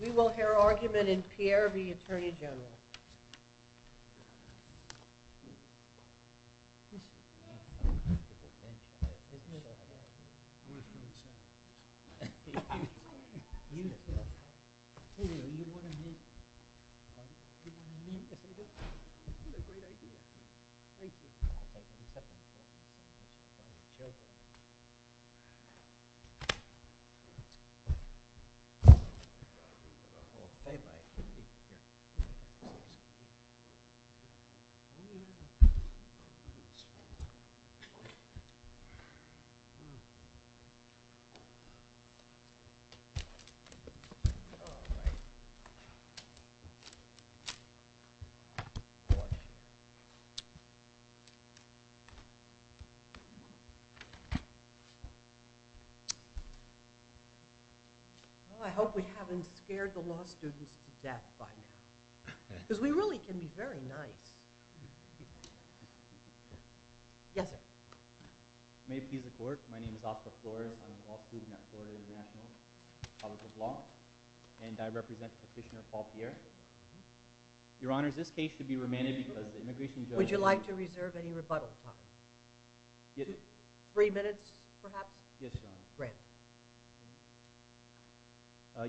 We will hear argument in Pierre v. Attorney General. I hope we haven't scared the law students to death by now. Because we really can be very nice. Yes sir. May it please the court, my name is Oscar Flores. I'm a law student at Florida International College of Law. And I represent Petitioner Paul Pierre. Your Honor, this case should be remanded because the immigration judge... Would you like to reserve any rebuttal time? Three minutes, perhaps? Yes, Your Honor.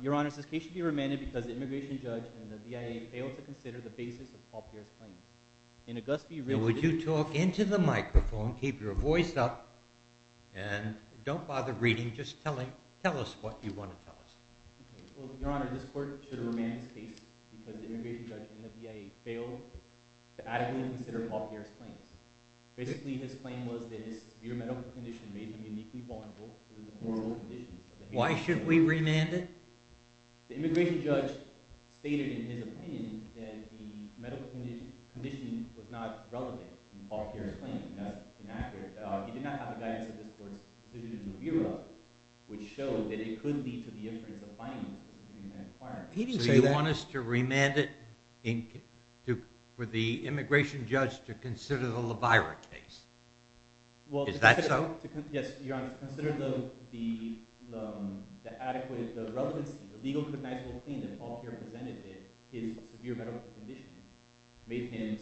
Your Honor, this case should be remanded because the immigration judge and the BIA failed to consider the basis of Paul Pierre's claims. Would you talk into the microphone, keep your voice up, and don't bother reading, just tell us what you want to tell us. Your Honor, this court should remand this case because the immigration judge and the BIA failed to adequately consider Paul Pierre's claims. Basically, his claim was that his severe medical condition made him uniquely vulnerable to the horrible conditions... Why should we remand it? The immigration judge stated in his opinion that the medical condition was not relevant in Paul Pierre's claim, not inaccurate. He did not have the guidance of this court to do the review of it, which showed that it could lead to the inference of fining. So you want us to remand it for the immigration judge to consider the LeVirate case? Is that so? Yes, Your Honor. Consider the relevancy, the legal to the medical claim that Paul Pierre presented in his severe medical condition made him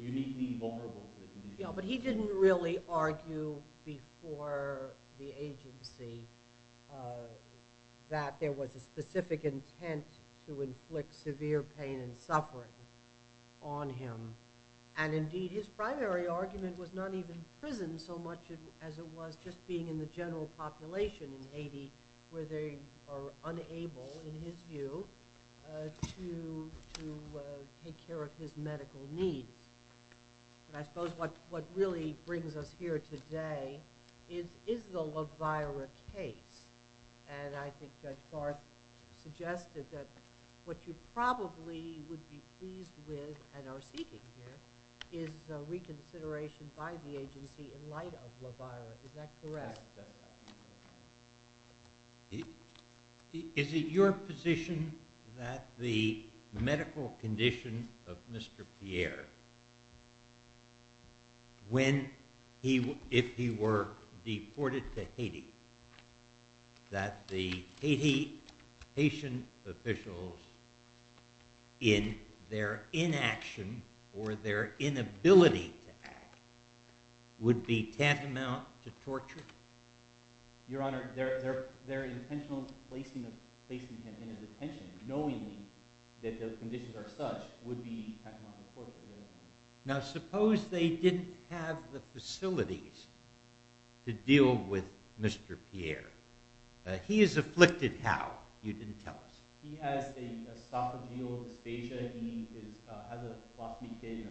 uniquely vulnerable to the conditions. But he didn't really argue before the agency that there was a specific intent to inflict severe pain and suffering on him. And indeed, his primary argument was not even prison so much as it was just being in the general population in Haiti where they are unable, in his view, to take care of his medical needs. And I suppose what really brings us here today is the LeVirate case. And I think Judge Barth suggested that what you probably would be pleased with and are seeking here is the reconsideration by the agency in light of LeVirate. Is that correct? Yes, Your Honor. Is it your position that the medical condition of Mr. Pierre, if he were deported to Haiti, that the Haitian officials in their inaction or their inability to act would be tantamount to torture? Your Honor, their intentional placing him in a detention, knowing that those conditions are such, would be tantamount to torture. Now suppose they didn't have the facilities to deal with Mr. Pierre. He is afflicted how? You didn't tell us. He has a esophageal dysphagia. He has a plasmic disease.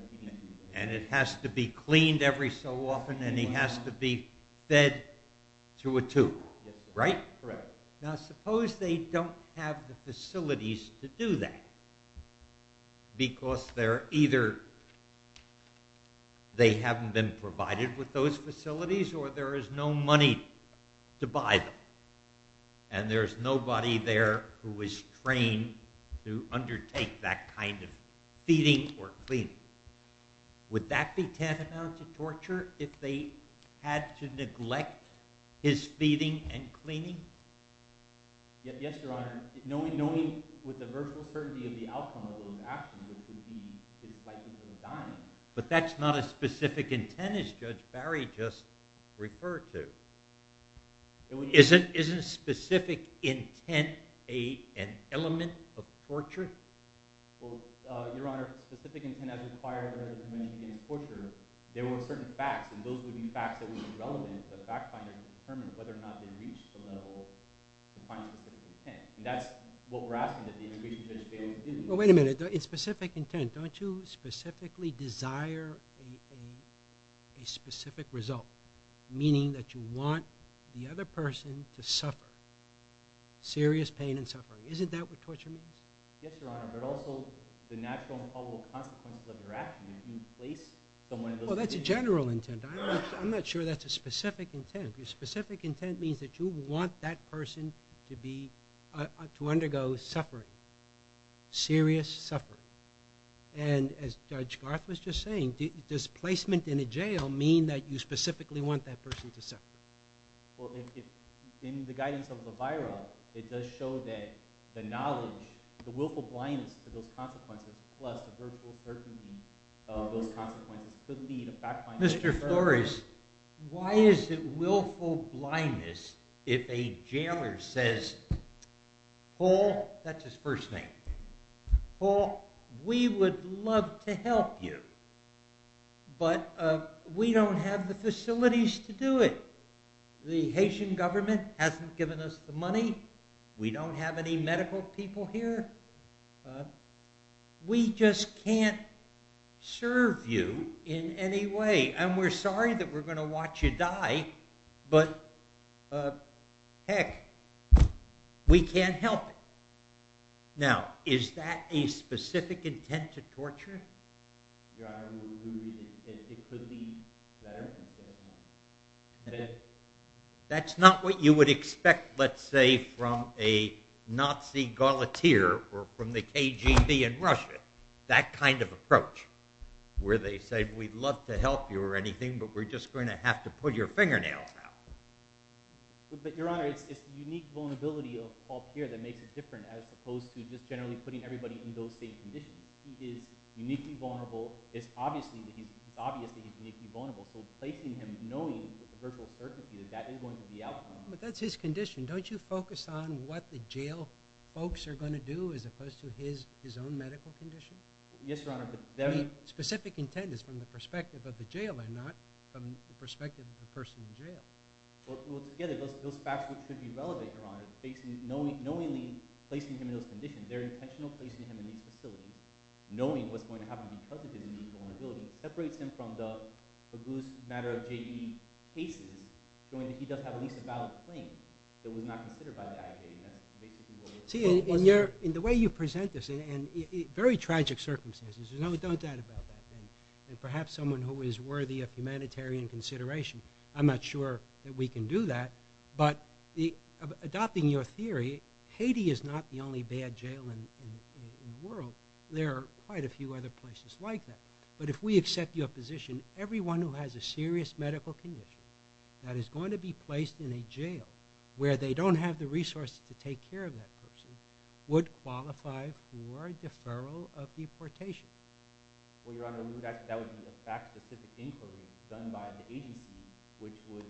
And it has to be cleaned every so often and he has to be fed through a tube, right? Correct. Now suppose they don't have the facilities to do that because they're either, they haven't been provided with those facilities or there is no money to buy them. And there is nobody there who is trained to undertake that kind of feeding or cleaning. Would that be tantamount to torture if they had to neglect his feeding and cleaning? Yes, Your Honor. Knowing with the virtual certainty of the outcome of those actions, it would be like he could have died. But that's not a specific intent as Judge Barry just referred to. Isn't specific intent an element of torture? Well, Your Honor, specific intent as required as torture, there were certain facts. And those would be facts that would be relevant to the fact finder to determine whether or not they reached the level to find specific intent. And that's what we're asking that the immigration judge Bailey do. Well, wait a minute. It's specific intent. Don't you specifically desire a specific result? Meaning that you want the other person to suffer serious pain and suffering. Isn't that what torture means? Yes, Your Honor. But also the natural and probable consequences of your actions. You place someone in those conditions. Well, that's a general intent. I'm not sure that's a specific intent. Your specific intent means that you want that person to undergo suffering. Serious suffering. And as Judge Garth was just saying, does placement in a jail mean that you specifically want that person to suffer? Well, in the guidance of the viral, it does show that the knowledge, the willful blindness to those consequences, plus the virtual certainty of those consequences could lead a fact finder. Mr. Flores, why is it willful blindness if a jailer says, Paul, that's his first name, Paul, we would love to help you, but we don't have the facilities to do it. The Haitian government hasn't given us the money. We don't have any medical people here. We just can't serve you in any way. And we're sorry that we're going to watch you die, but, heck, we can't help it. Now, is that a specific intent to torture? Your Honor, it could be better. That's not what you would expect, let's say, from a Nazi guillotineer or from the KGB in Russia, that kind of approach where they say, we'd love to help you or anything, but we're just going to have to put your fingernails out. But, Your Honor, it's the unique vulnerability of Paul Pierre that makes it different as opposed to just generally putting everybody in those same conditions. He is uniquely vulnerable. It's obvious that he's uniquely vulnerable, so placing him knowing with virtual certainty that that is going to be the outcome. But that's his condition. Don't you focus on what the jail folks are going to do as opposed to his own medical condition? Yes, Your Honor, but they're— I mean, specific intent is from the perspective of the jailer, not from the perspective of the person in jail. Well, together, those facts should be relevant, Your Honor, knowingly placing him in those conditions. They're intentionally placing him in these facilities, knowing what's going to happen because of his unique vulnerability. It separates him from the abuse matter of J.E. cases, showing that he does have at least a valid claim that was not considered by the agitation. That's basically what— See, in the way you present this, in very tragic circumstances, there's no doubt about that. And perhaps someone who is worthy of humanitarian consideration, I'm not sure that we can do that, but adopting your theory, Haiti is not the only bad jail in the world. There are quite a few other places like that. But if we accept your position, everyone who has a serious medical condition that is going to be placed in a jail where they don't have the resources to take care of that person would qualify for deferral of deportation. Well, Your Honor, that would be a fact-specific inquiry done by the agency, which would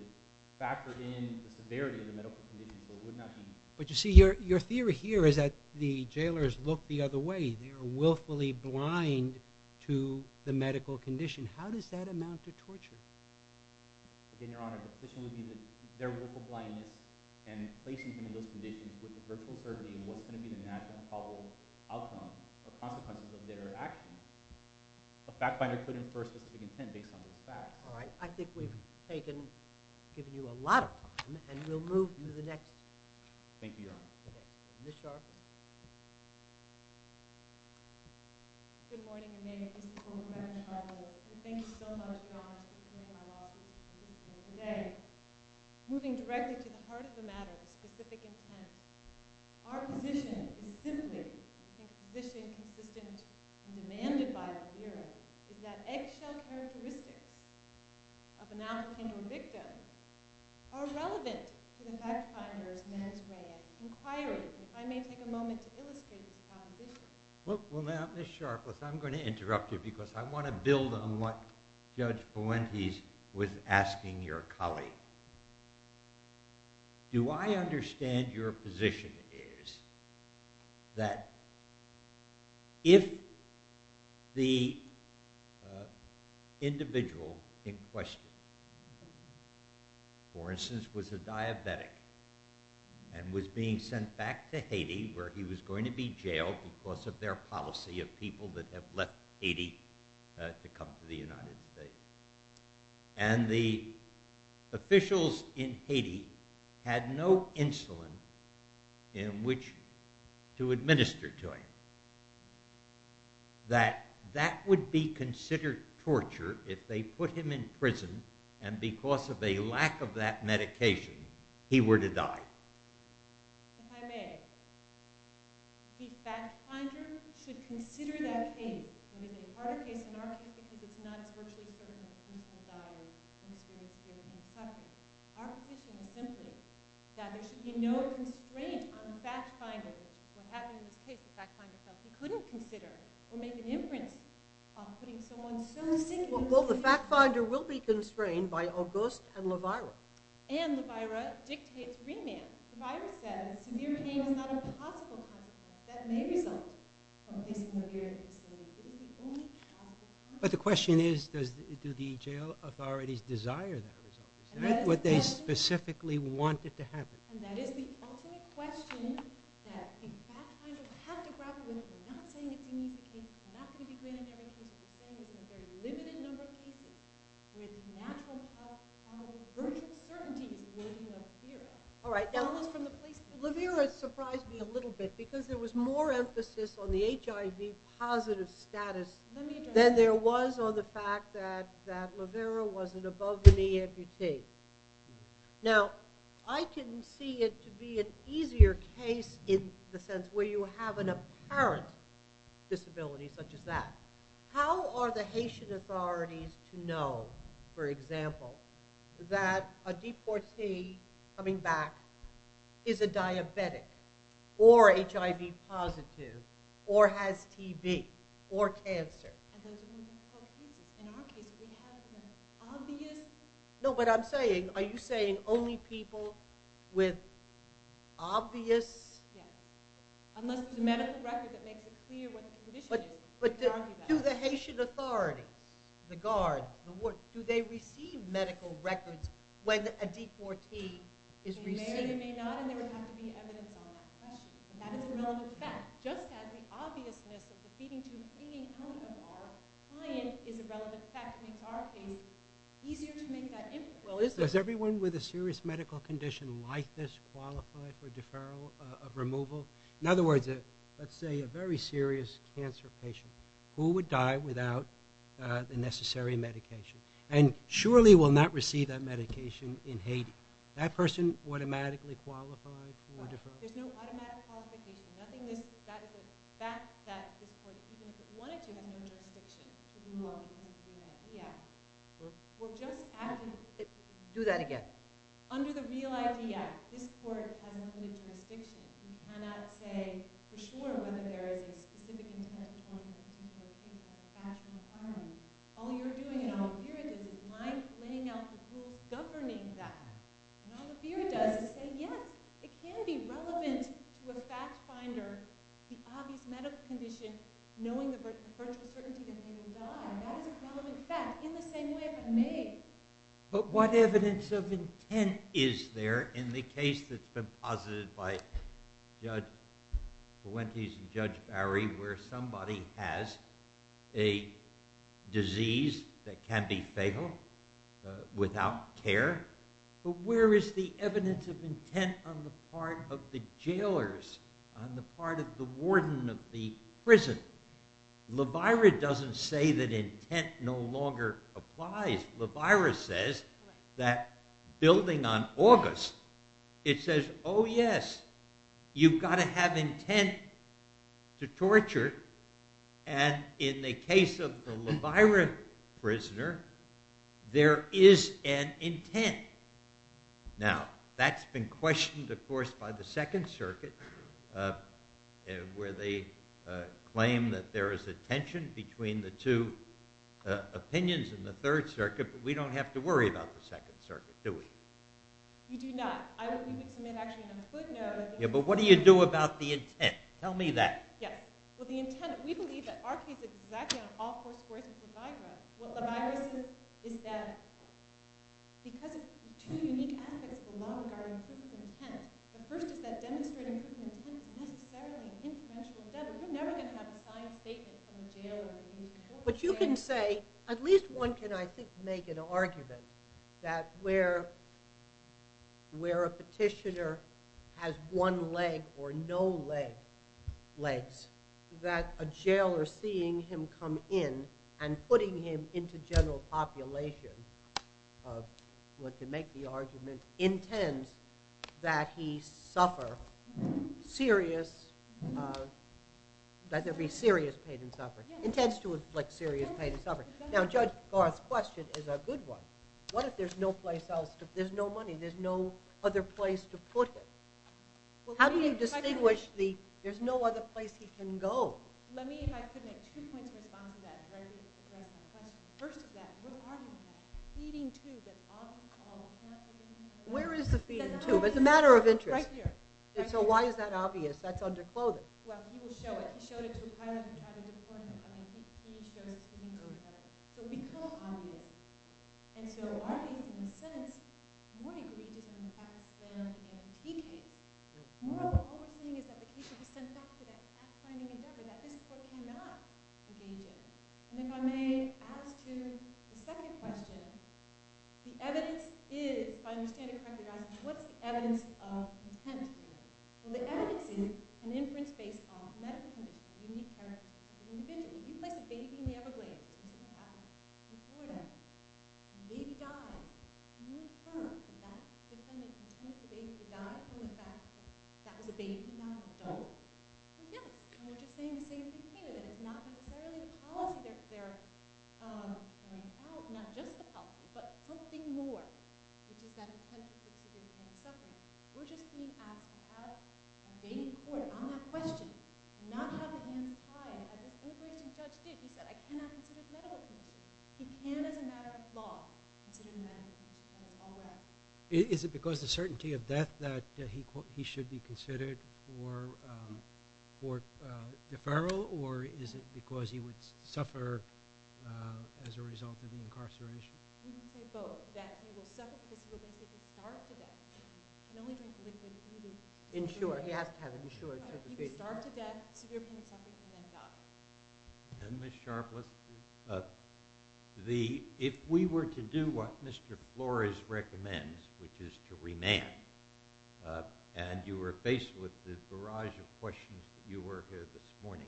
factor in the severity of the medical condition, but would not be— But you see, your theory here is that the jailers look the other way. They are willfully blind to the medical condition. How does that amount to torture? Again, Your Honor, the position would be that their willful blindness and placing them in those conditions with the virtual surgery was going to be the natural and probable outcome or consequences of their actions. A fact-finder could infer specific intent based on those facts. All right, I think we've taken—given you a lot of time, and we'll move to the next— Thank you, Your Honor. Ms. Sharpe. Good morning, Your Honor. This is Col. Gretchen Sharpe here. Thank you so much, Your Honor, for being in my office. Today, moving directly to the heart of the matter of specific intent, our position is simply— I think the position consistent and demanded by us here is that eggshell characteristics of an African victim are relevant to the fact-finder's man's way of inquiring. If I may take a moment to illustrate this position. Well, now, Ms. Sharpe, I'm going to interrupt you because I want to build on what Judge Fuentes was asking your colleague. Do I understand your position is that if the individual in question, for instance, was a diabetic and was being sent back to Haiti where he was going to be jailed because of their policy of people that have left Haiti to come to the United States, and the officials in Haiti had no insulin in which to administer to him, that that would be considered torture if they put him in prison and because of a lack of that medication, he were to die? If I may, the fact-finder should consider that case, and it is a harder case in our case because it's not as virtually certain as people's daughters and the students here in this country. Our position is simply that there should be no constraint on the fact-finder on what happened in this case. The fact-finder couldn't consider or make an inference on putting someone so sick in prison. Well, the fact-finder will be constrained by Auguste and LaVeyra. And LaVeyra dictates remand. LaVeyra says severe pain is not a possible consequence. That may result from physical abuse. But the question is, do the jail authorities desire that result? Is that what they specifically wanted to happen? LaVeyra surprised me a little bit because there was more emphasis on the HIV-positive status than there was on the fact that LaVeyra was an above-the-knee amputee. Now, I can see it to be an easier case in the sense where you have an apparent disability such as that. How are the Haitian authorities to know, for example, that a deportee coming back is a diabetic or HIV-positive or has TB or cancer? No, but I'm saying, are you saying only people with obvious... But do the Haitian authorities, the guard, the ward, do they receive medical records when a deportee is received? It does have the obviousness of the feeding tube hanging out of the bar. Client is a relevant fact. It makes our case easier to make that impact. Does everyone with a serious medical condition like this qualify for deferral of removal? In other words, let's say a very serious cancer patient who would die without the necessary medication and surely will not receive that medication in Haiti. That person automatically qualified for deferral? There's no automatic qualification. Do that again. Under the Real ID Act, this court has limited jurisdiction. You cannot say for sure whether there is a specific intent toward a particular patient or a special client. All you're doing and all the fear is is laying out the rules governing that. And all the fear does is say, yes, it can be relevant to a fact finder, the obvious medical condition, knowing the virtual certainty that the patient will die. That is a relevant fact in the same way it was made. But what evidence of intent is there in the case that's been posited by Judge Buentes and Judge Barry where somebody has a disease that can be fatal without care but where is the evidence of intent on the part of the jailers, on the part of the warden of the prison? Levira doesn't say that intent no longer applies. Levira says that building on August, it says, oh, yes, you've got to have intent to torture. And in the case of the Levira prisoner, there is an intent. Now, that's been questioned, of course, by the Second Circuit where they claim that there is a tension between the two opinions in the Third Circuit, but we don't have to worry about the Second Circuit, do we? You do not. I don't think it's actually in the footnote. Yeah, but what do you do about the intent? Tell me that. Well, we believe that our case is exactly on all four squares of Levira. What Levira says is that because two unique aspects belong to our improvement of intent, the first is that demonstrating improvement of intent is not necessarily an influential endeavor. We're never going to have a signed statement from a jailer. But you can say, at least one can, I think, make an argument that where a petitioner has one leg or no legs, that a jailer seeing him come in and putting him into general population, to make the argument, intends that there be serious pain and suffering. Intends to inflict serious pain and suffering. Now, Judge Garth's question is a good one. What if there's no place else? There's no money. There's no other place to put him. How do you distinguish the there's no other place he can go? Let me, if I could, make two points in response to that in order to address my question. First of all, what argument is that? The feeding tube, that's obviously called... Where is the feeding tube? It's a matter of interest. Right here. So why is that obvious? That's under clothing. Well, he will show it. He showed it to a pilot who had a deployment coming. So it would be called obvious. And so are we, in a sense, more egregious in the fact that there is a key case? More of the whole thing is that the case should be sent back to that past finding endeavor that this court cannot engage in. And if I may, as to the second question, the evidence is, if I understand it correctly, what's the evidence of intent? Well, the evidence is an inference based on medical conditions, unique characteristics. If you place a baby in the Everglades, and you ask a reporter, and the baby dies, can you confirm that the defendant intends the baby to die from the fact that that was a baby not an adult? No. And we're just saying the same thing here, that it's not necessarily the policy. They're out, not just the policy, but something more, which is that intent of the procedure is not a supplement. We're just being asked to ask a baby reporter on that question, not have the baby die. As this old-fashioned judge did. He said, I cannot consider it medical conditions. He can, as a matter of law, consider medical conditions. All that. Is it because the certainty of death that he should be considered for deferral, or is it because he would suffer as a result of the incarceration? We can say both. That he will suffer because he was able to starve to death. And only because he was able to do that. Ensure. If he could starve to death, severe punishment, and then die. And Ms. Sharpless, if we were to do what Mr. Flores recommends, which is to remand, and you were faced with this barrage of questions that you were here this morning,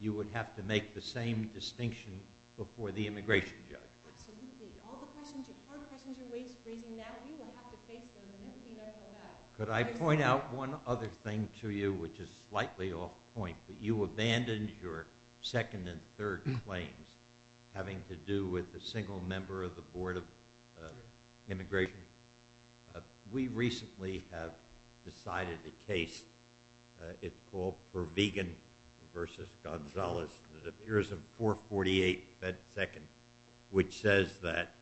you would have to make the same distinction before the immigration judge. Absolutely. All the questions you've heard, questions you're raising now, you will have to face them. And if you don't know that. Could I point out one other thing to you, which is slightly off point, that you abandoned your second and third claims having to do with the single member of the Board of Immigration. We recently have decided the case. It's called Pervegan versus Gonzalez. It appears in 448 Fed Second, which says that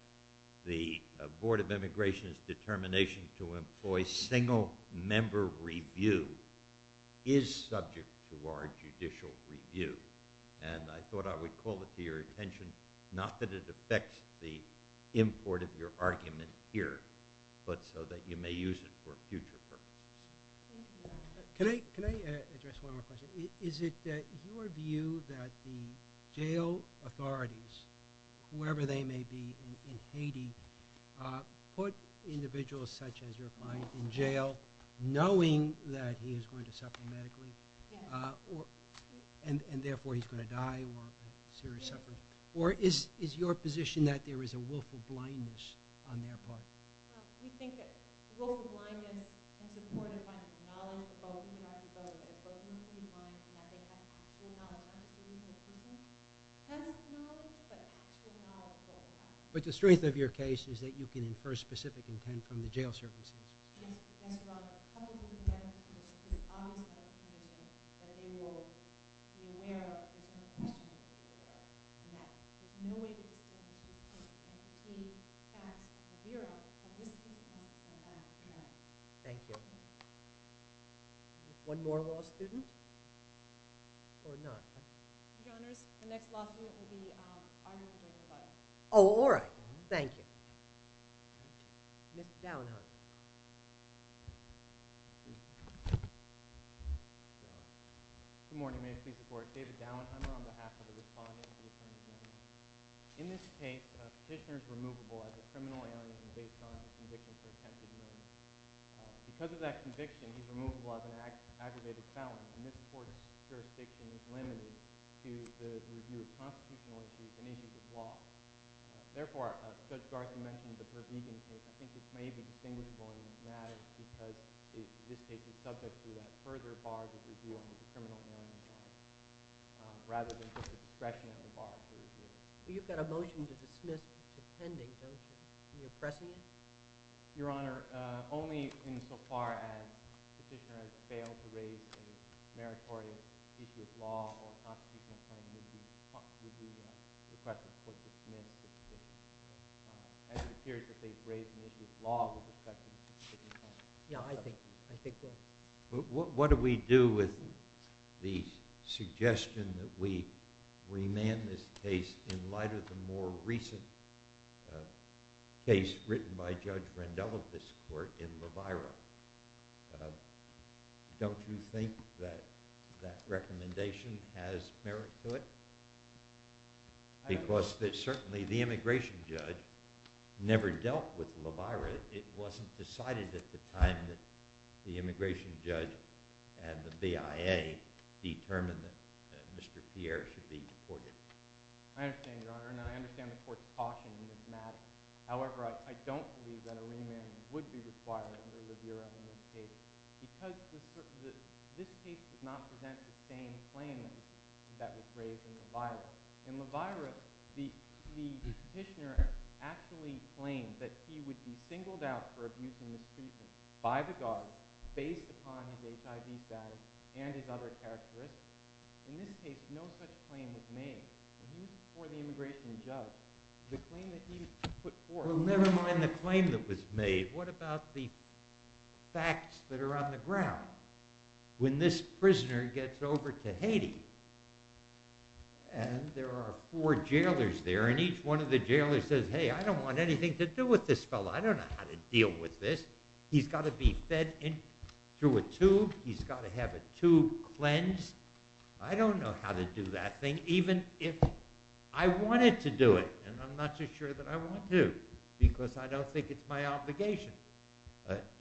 the Board of Immigration's determination to employ a single member review is subject to our judicial review. And I thought I would call it to your attention, not that it affects the import of your argument here, but so that you may use it for future purposes. Can I address one more question? Is it your view that the jail authorities, whoever they may be in Haiti, put individuals such as your client in jail knowing that he is going to suffer medically and therefore he's going to die? Or is your position that there is a willful blindness on their part? We think that a willful blindness is supported by the knowledge about who you have to go with, what you have to do in Haiti, and that they have actual knowledge about who you have to go with. Penalty knowledge, but actual knowledge. But the strength of your case is that you can infer specific intent from the jail services. Yes. Thank you. One more law student? Or not? Your Honors, the next law student will be Arnie. Oh, all right. Thank you. Mr. Downheimer. Good morning. May it please the Court. David Downheimer on behalf of the respondents. In this case, a petitioner is removable as a criminal alien based on his conviction for attempted murder. Because of that conviction, he's removable as an aggravated felon, and this Court's jurisdiction is limited to the review of constitutional issues and issues of law. Therefore, Judge Garza mentioned the pervegance case. I think it may be distinguishable in these matters because this case is subject to that further bar that we do on the criminal alien. Rather than the discretionary bar that we do. You've got a motion to dismiss the pending motion. Are you oppressing it? Your Honor, only insofar as the petitioner has failed to raise a meritorious issue of law or a constitutional claim, would we request the Court to dismiss the petition. As it appears that they've raised an issue of law with respect to the petition. Yeah, I think they have. What do we do with the suggestion that we remand this case in light of the more recent case written by Judge Rendell of this Court in La Vaira? Don't you think that that recommendation has merit to it? Because certainly the immigration judge never dealt with La Vaira. It wasn't decided at the time that the immigration judge and the BIA determined that Mr. Pierre should be deported. I understand, Your Honor. And I understand the Court's caution in this matter. However, I don't believe that a remand would be required under the review of this case. Because this case does not present the same claim that was raised in La Vaira. In La Vaira, the petitioner actually claimed that he would be singled out for abuse and mistreatment by the guards based upon his HIV status and his other characteristics. In this case, no such claim was made. And he, for the immigration judge, the claim that he put forth. never mind the claim that was made. What about the facts that are on the ground? When this prisoner gets over to Haiti, and there are four jailers there, and each one of the jailers says, hey, I don't want anything to do with this fellow. I don't know how to deal with this. He's got to be fed through a tube. He's got to have a tube cleansed. I don't know how to do that thing, even if I wanted to do it. And I'm not too sure that I want to, because I don't think it's my obligation.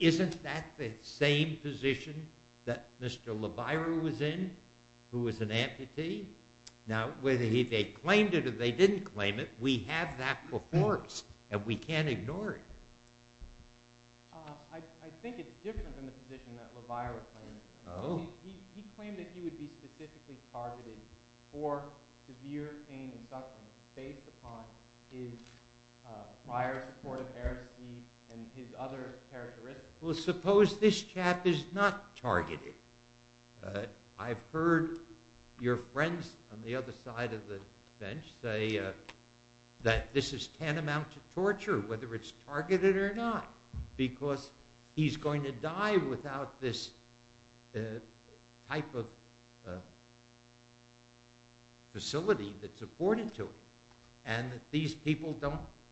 Isn't that the same position that Mr. LaViro was in, who was an amputee? Now, whether they claimed it or they didn't claim it, we have that before us, and we can't ignore it. I think it's different than the position that LaViro claimed. He claimed that he would be specifically targeted for severe pain and other characteristics. Well, suppose this chap is not targeted. I've heard your friends on the other side of the bench say that this is tantamount to torture, whether it's targeted or not, because he's going to die without this type of facility that's afforded to him, and that these people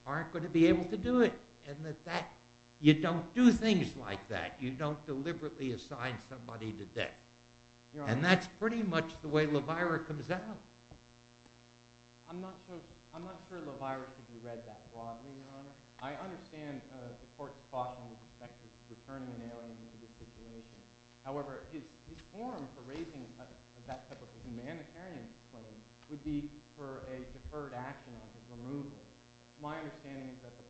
aren't going to be able to do it, and that you don't do things like that. You don't deliberately assign somebody to death. And that's pretty much the way LaViro comes out. I'm not sure LaViro should be read that broadly, Your Honor. I understand the court's caution in respect to returning an alien into the situation. However, his forum for raising that type of a humanitarian claim would be for a deferred action of removal. My understanding is that the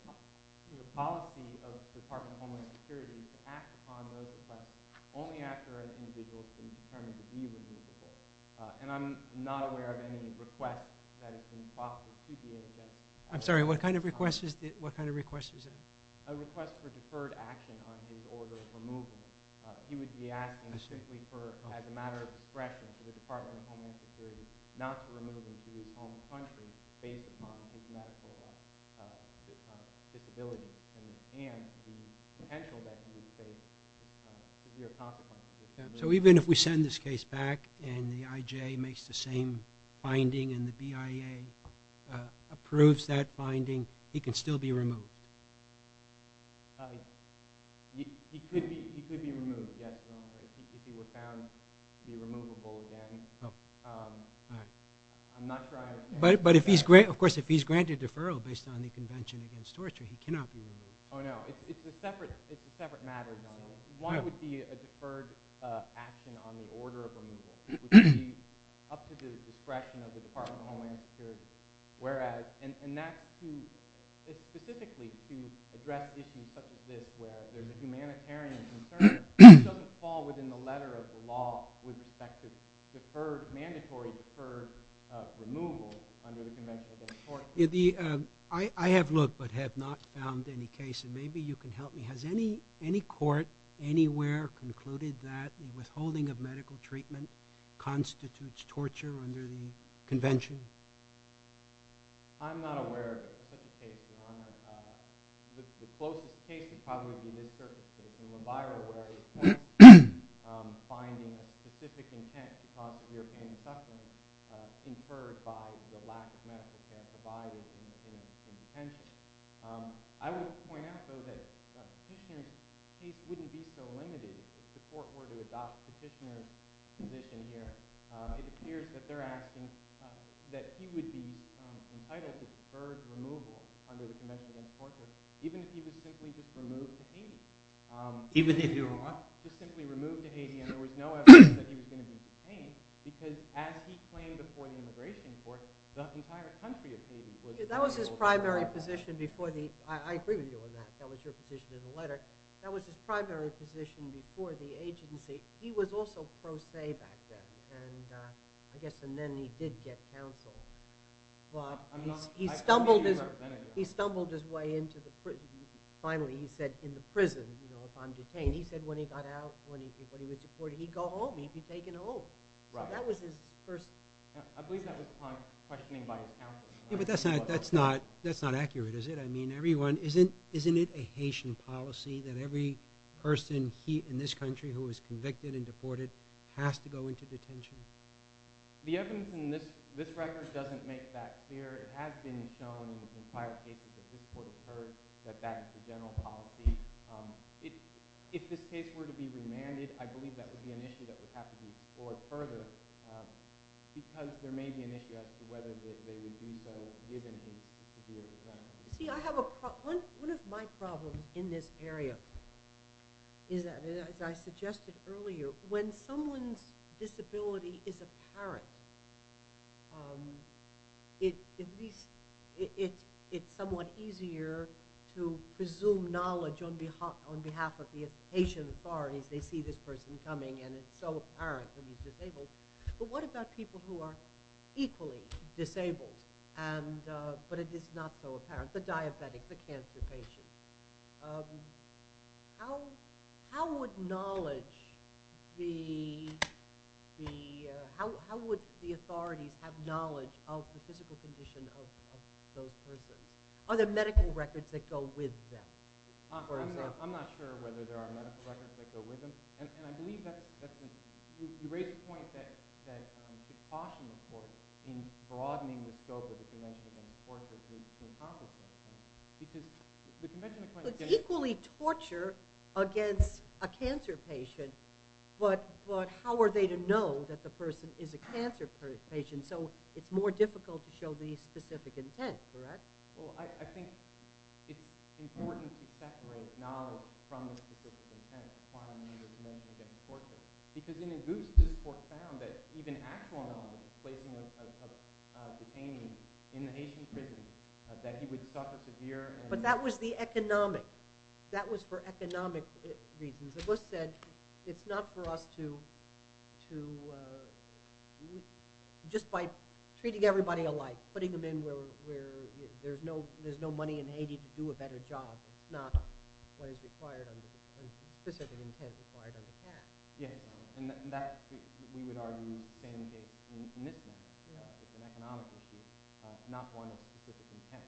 policy of the Department of Homeland Security is to act upon those requests only after an individual has been determined to be removable. And I'm not aware of any request that has been processed to the NHS. I'm sorry, what kind of request is that? A request for deferred action on his order of removal. He would be asking simply as a matter of discretion to the Department of Homeland Security not to remove him to his home country based upon his medical disability. And the potential that he would face could be a consequence. So even if we send this case back and the IJ makes the same finding and the BIA approves that finding, he can still be removed? He could be removed, yes, Your Honor. If he were found to be removable again. I'm not sure I understand that. Of course, if he's granted deferral based on the Convention Against Torture, he cannot be removed. Oh, no. It's a separate matter, Your Honor. One would be a deferred action on the order of removal. It would be up to the discretion of the Department of Homeland Security. And that's specifically to address issues such as this where the humanitarian concern doesn't fall within the letter of the law with respect to deferred, mandatory deferred removal under the Convention Against Torture. I have looked but have not found any case. And maybe you can help me. Has any court anywhere concluded that withholding of medical treatment constitutes torture under the convention? I'm not aware of such a case, Your Honor. The closest case would probably be the Mid-Circuit case. I would point out, though, that Petitioner's case wouldn't be so limited. If the court were to adopt Petitioner's position here, it appears that they're asking that he would be entitled to deferred removal under the Convention Against Torture, even if he were to simply remove to Haiti. And there was no evidence that he was going to be detained because, as he claimed before the immigration court, the entire country of Haiti would be able to do that. That was his primary position before the – I agree with you on that. That was your position in the letter. That was his primary position before the agency. He was also pro se back then. And I guess then he did get counsel. But he stumbled his way into the – finally, he said in the prison, you know, if I'm detained, he said when he got out, when he was deported, he'd go home. He'd be taken home. Right. That was his first – I believe that was upon questioning by his counsel. Yeah, but that's not accurate, is it? I mean, everyone – isn't it a Haitian policy that every person in this country who is convicted and deported has to go into detention? The evidence in this record doesn't make that clear. It has been shown in prior cases that this court has heard that that is the general policy. If this case were to be remanded, I believe that would be an issue that would have to be explored further because there may be an issue as to whether they would do so given his severe detention. See, I have a – one of my problems in this area is that, as I suggested earlier, when someone's disability is apparent, at least it's somewhat easier to presume knowledge on behalf of the Haitian authorities. They see this person coming and it's so apparent that he's disabled. But what about people who are equally disabled but it is not so apparent, the diabetic, the cancer patient? How would knowledge be – how would the authorities have knowledge of the physical condition of those persons? Are there medical records that go with them? I'm not sure whether there are medical records that go with them. And I believe that's – you raise the point that it's caution, of course, in broadening the scope of the convention and, of course, because the convention – So it's equally torture against a cancer patient, but how are they to know that the person is a cancer patient? So it's more difficult to show the specific intent, correct? Well, I think it's important to separate knowledge from the specific intent, because in Auguste, this court found that even actual knowledge of the placement of detainees in the Haitian prisons, that he would suffer severe – But that was the economic – that was for economic reasons. Auguste said it's not for us to – just by treating everybody alike, putting them in where there's no money in Haiti to do a better job. It's not what is required under – specific intent required under the Act. And that, we would argue, same case in this matter. It's an economic issue, not one of specific intent.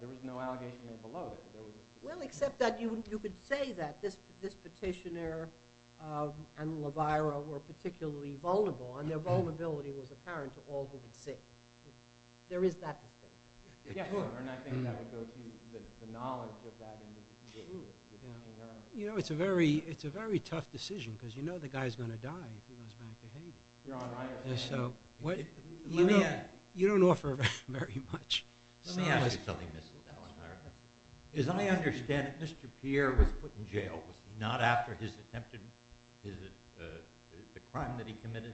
There is no allegation there below that. Well, except that you could say that this petitioner and La Vaira were particularly vulnerable, and their vulnerability was apparent to all who would see. There is that distinction. And I think that would go to the knowledge of that individual. You know, it's a very tough decision, because you know the guy's going to die if he goes back to Haiti. You don't offer very much. As I understand it, Mr. Pierre was put in jail, not after his attempted – the crime that he committed.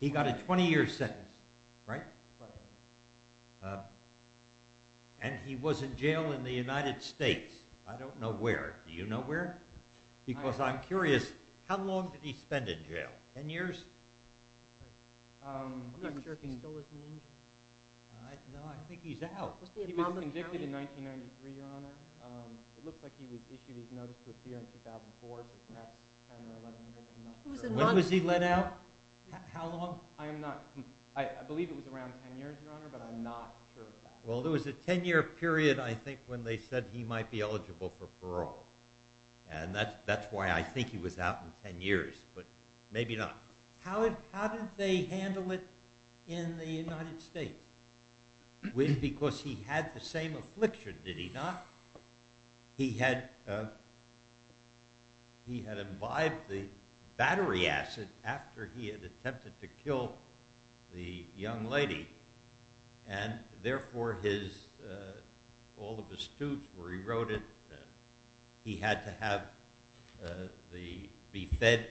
He got a 20-year sentence, right? And he was in jail in the United States. I don't know where. Do you know where? Because I'm curious, how long did he spend in jail? Ten years? No, I think he's out. When was he let out? How long? Ten years, Your Honor, but I'm not sure of that. Well, there was a ten-year period, I think, when they said he might be eligible for parole. And that's why I think he was out in ten years, but maybe not. How did they handle it in the United States? Because he had the same affliction, did he not? He had imbibed the battery acid after he had attempted to kill the young lady, and therefore all of his tubes were eroded. He had to be fed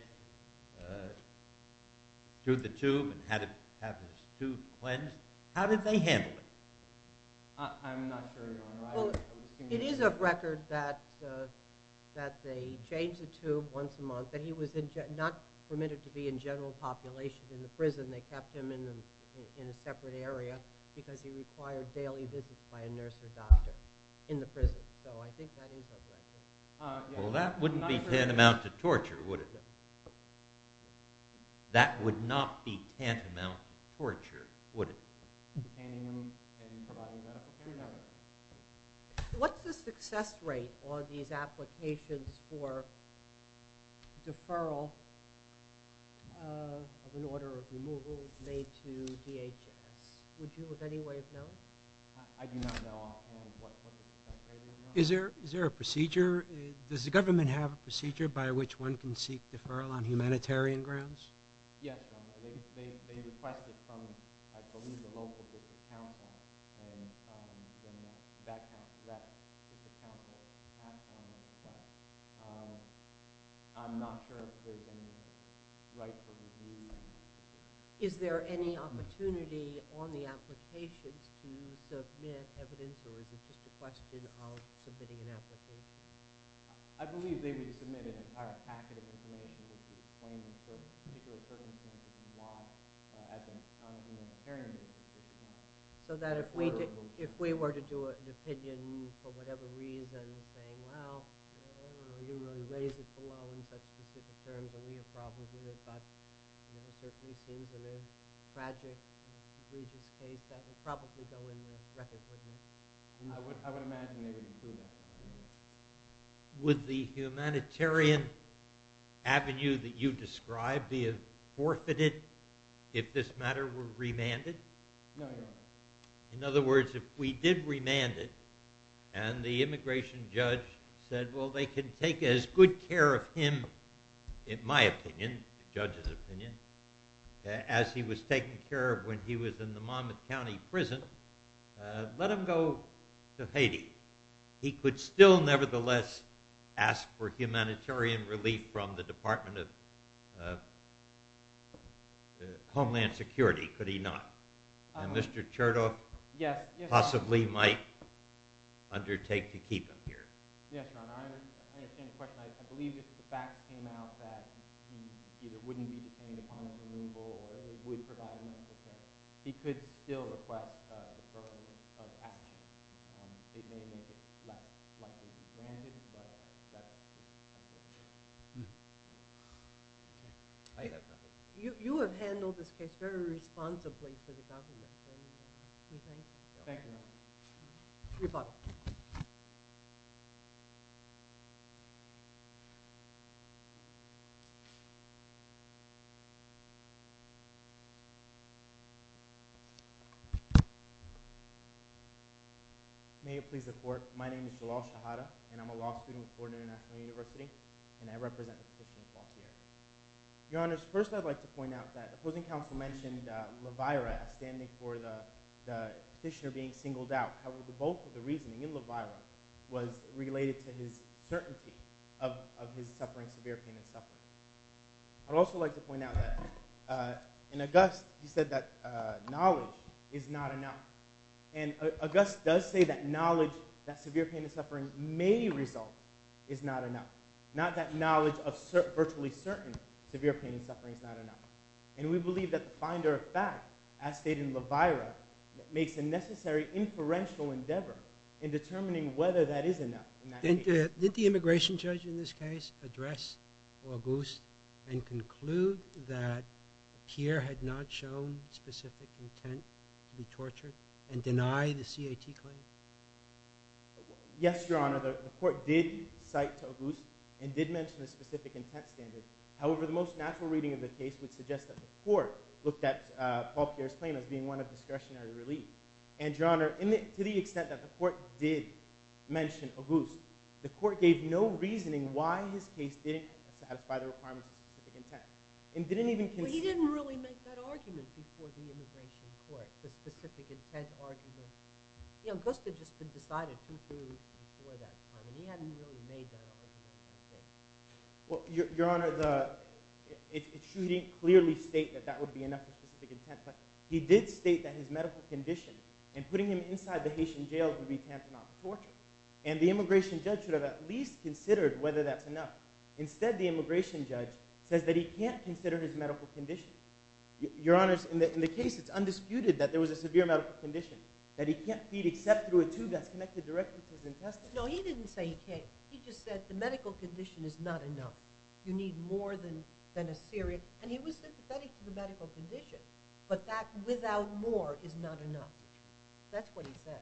through the tube and have his tube cleansed. How did they handle it? I'm not sure, Your Honor. It is a record that they changed the tube once a month, but he was not permitted to be in general population in the prison. They kept him in a separate area because he required daily visits by a nurse or doctor in the prison. So I think that is a record. Well, that wouldn't be tantamount to torture, would it? That would not be tantamount to torture, would it? No. What's the success rate on these applications for deferral of an order of removal made to DHS? Would you in any way have known? I do not know. Is there a procedure? Does the government have a procedure Yes, Your Honor. They requested from, I believe, the local district council, and then that district council passed on that request. I'm not sure if there's any rightful review. Is there any opportunity on the applications to submit evidence, or is it just a question of submitting an application? I believe they would submit an entire packet of information to explain in particular circumstances why, as a non-humanitarian basis, it's not an order of removal. So that if we were to do an opinion for whatever reason, saying, well, you really raised it below in such specific terms and we have problems with it, but it certainly seems in a tragic, egregious case, that would probably go in the records, wouldn't it? I would imagine they would include that. Would the humanitarian avenue that you described be forfeited if this matter were remanded? No, Your Honor. In other words, if we did remand it, and the immigration judge said, well, they can take as good care of him, in my opinion, the judge's opinion, as he was taken care of when he was in the Monmouth County prison, let him go to Haiti. He could still, nevertheless, ask for humanitarian relief from the Department of Homeland Security, could he not? And Mr. Chertoff possibly might undertake to keep him here. Yes, Your Honor. I understand the question. I believe if the facts came out that he either wouldn't be detained upon removal or would provide medical care, he could still request the program of action. It may make it less likely to be remanded, but that's the understanding. You have handled this case very responsibly for the government, don't you think? Thank you, Your Honor. You're welcome. May it please the Court. My name is Jalal Shahada, and I'm a law student at Ford International University, and I represent the petitioner, Paul Pierre. Your Honors, first I'd like to point out that opposing counsel mentioned Levira as standing for the petitioner being singled out. How both of the reasoning in Levira was related to his certainty of his suffering, severe pain and suffering. I'd also like to point out that in August, he said that knowledge is not enough. And August does say that knowledge that severe pain and suffering may result is not enough. Not that knowledge of virtually certain severe pain and suffering is not enough. And we believe that the finder of fact, as stated in Levira, makes a necessary inferential endeavor in determining whether that is enough. Did the immigration judge in this case address August and conclude that Pierre had not shown any specific intent to be tortured and deny the CAT claim? Yes, Your Honor. The court did cite to August and did mention a specific intent standard. However, the most natural reading of the case would suggest that the court looked at Paul Pierre's claim as being one of discretionary relief. And Your Honor, to the extent that the court did mention August, the court gave no reasoning why his case didn't satisfy the requirements of specific intent and didn't even consider... But he didn't really make that argument before the immigration court, the specific intent argument. You know, August had just been decided to conclude before that time, and he hadn't really made that argument. Well, Your Honor, it shouldn't clearly state that that would be enough of a specific intent, but he did state that his medical condition and putting him inside the Haitian jails would be tantamount to torture. And the immigration judge should have at least considered whether that's enough. Instead, the immigration judge says that he can't consider his medical condition. Your Honor, in the case, it's undisputed that there was a severe medical condition, that he can't feed except through a tube that's connected directly to his intestine. No, he didn't say he can't. He just said the medical condition is not enough. You need more than a serious... And he was sympathetic to the medical condition, but that without more is not enough. That's what he said.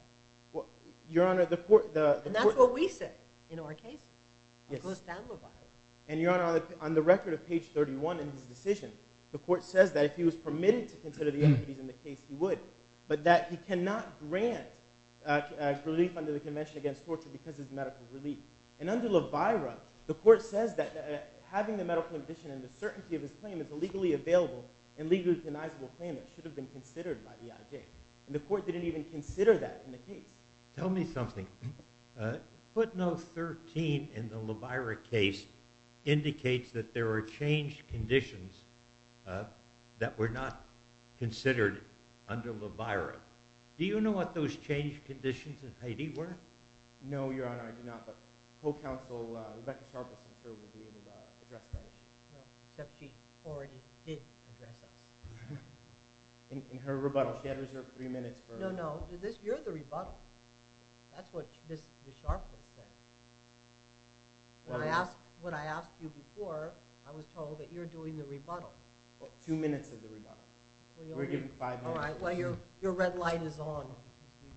Your Honor, the court... And that's what we said in our case. Yes. And, Your Honor, on the record of page 31 in his decision, the court says that if he was permitted to consider the entities in the case, he would, but that he cannot grant relief under the Convention against Torture because of his medical relief. And under La Vaira, the court says that having the medical condition and the certainty of his claim is a legally available and legally deniable claim that should have been considered by the IJ. And the court didn't even consider that in the case. Tell me something. Footnote 13 in the La Vaira case indicates that there are changed conditions that were not considered under La Vaira. Do you know what those changed conditions in Haiti were? No, Your Honor, I do not, but co-counsel Rebecca Sharpless and her were being addressed by us. Except she already did address us. In her rebuttal, she had reserved three minutes for... No, no, no. You're the rebuttal. That's what Ms. Sharpless said. When I asked you before, I was told that you're doing the rebuttal. Two minutes of the rebuttal. We're given five minutes. Well, your red light is on.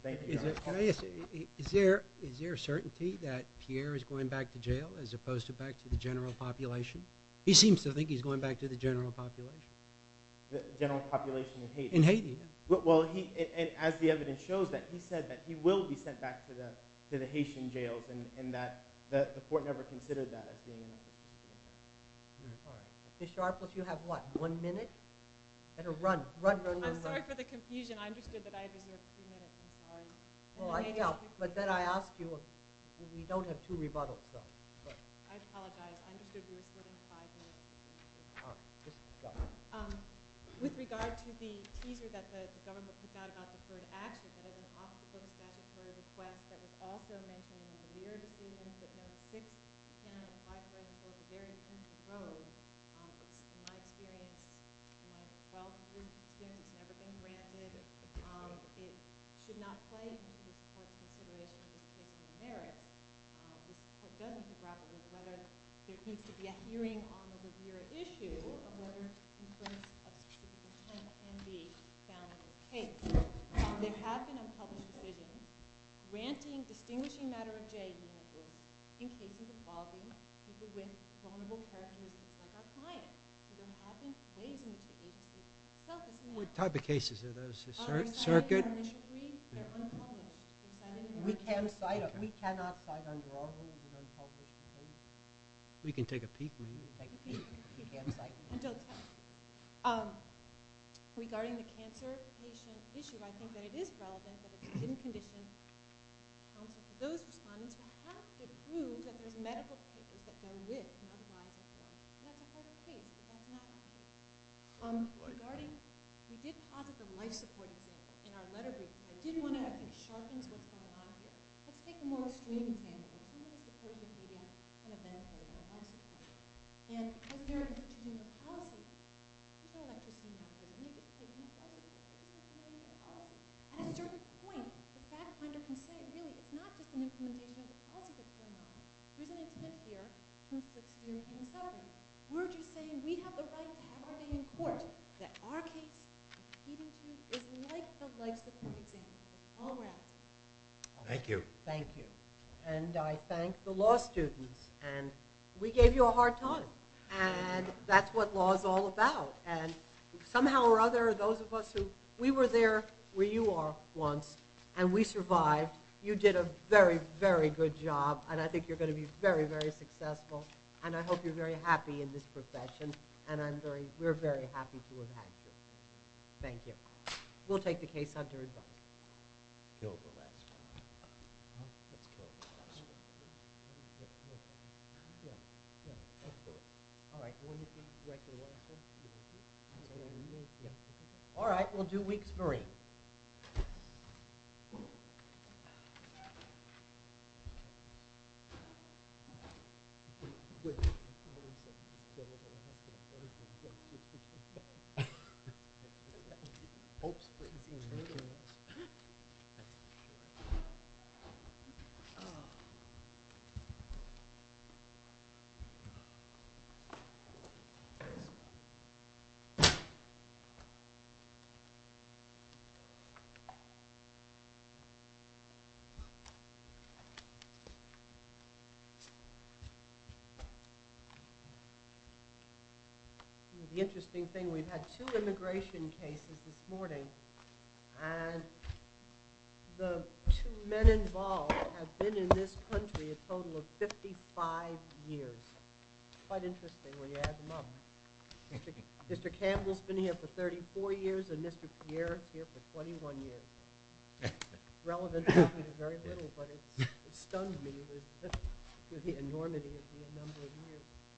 Thank you, Your Honor. Is there certainty that Pierre is going back to jail as opposed to back to the general population? He seems to think he's going back to the general population. The general population in Haiti? As the evidence shows, he said that he will be sent back to the Haitian jails and that the court never considered that as being an opportunity. Ms. Sharpless, you have what? One minute? I'm sorry for the confusion. I understood that I reserved three minutes. Then I ask you, we don't have two rebuttals. I apologize. I understood you were shorting five minutes. Ms. Sharpless. With regard to the teaser that the government put out about deferred action, that is an obstacle to statutory request that was also mentioned in the reader's decision, that no 6th, 10th, or 5th grade before the very end of the road, which in my experience, in my 12th grade experience, has never been granted, it should not play into the court's consideration of distinction of merit. The court doesn't have to grapple with whether there needs to be a hearing on the revered issue of whether influence of the 10th and B found in the case. There have been unpublished decisions granting distinguishing matter of jail units in cases involving people with vulnerable characteristics like our client. There have been ways in which the agency has helped us in that. What type of cases are those? Circuit? We cannot cite unlawful and unpublished cases. We can take a peek. Regarding the cancer patient issue, I think that it is relevant that the condition those respondents have to prove that there's medical papers that they live in other lives as well. Regarding, we did posit the life support issue in our letter which I did want to actually sharpen because it explains what's going on here. Let's take a more extreme example. At a certain point, the fact finder can say, really, it's not just an implementation of the policy that's going on. There's an intent here, proof that's here, and a settlement. We're just saying we have the right to have our say in court. That our case, is like the likes of the patient. Thank you. I thank the law students. We gave you a hard time. That's what law is all about. We were there where you are once, and we survived. You did a very, very good job, and I think you're going to be very, very successful. I hope you're very happy in this profession. We're very happy to have had you. Thank you. We'll take the case under advice. Alright, we'll do weeks free. We'll do weeks free. The interesting thing, we've had two immigration cases this morning, and the two men involved have been in this country a total of 55 years. Quite interesting when you add them up. Mr. Campbell's been here for 34 years, and Mr. Pierre's here for 21 years. Relevant to very little, but it stunned me the enormity of the number of years. Alright.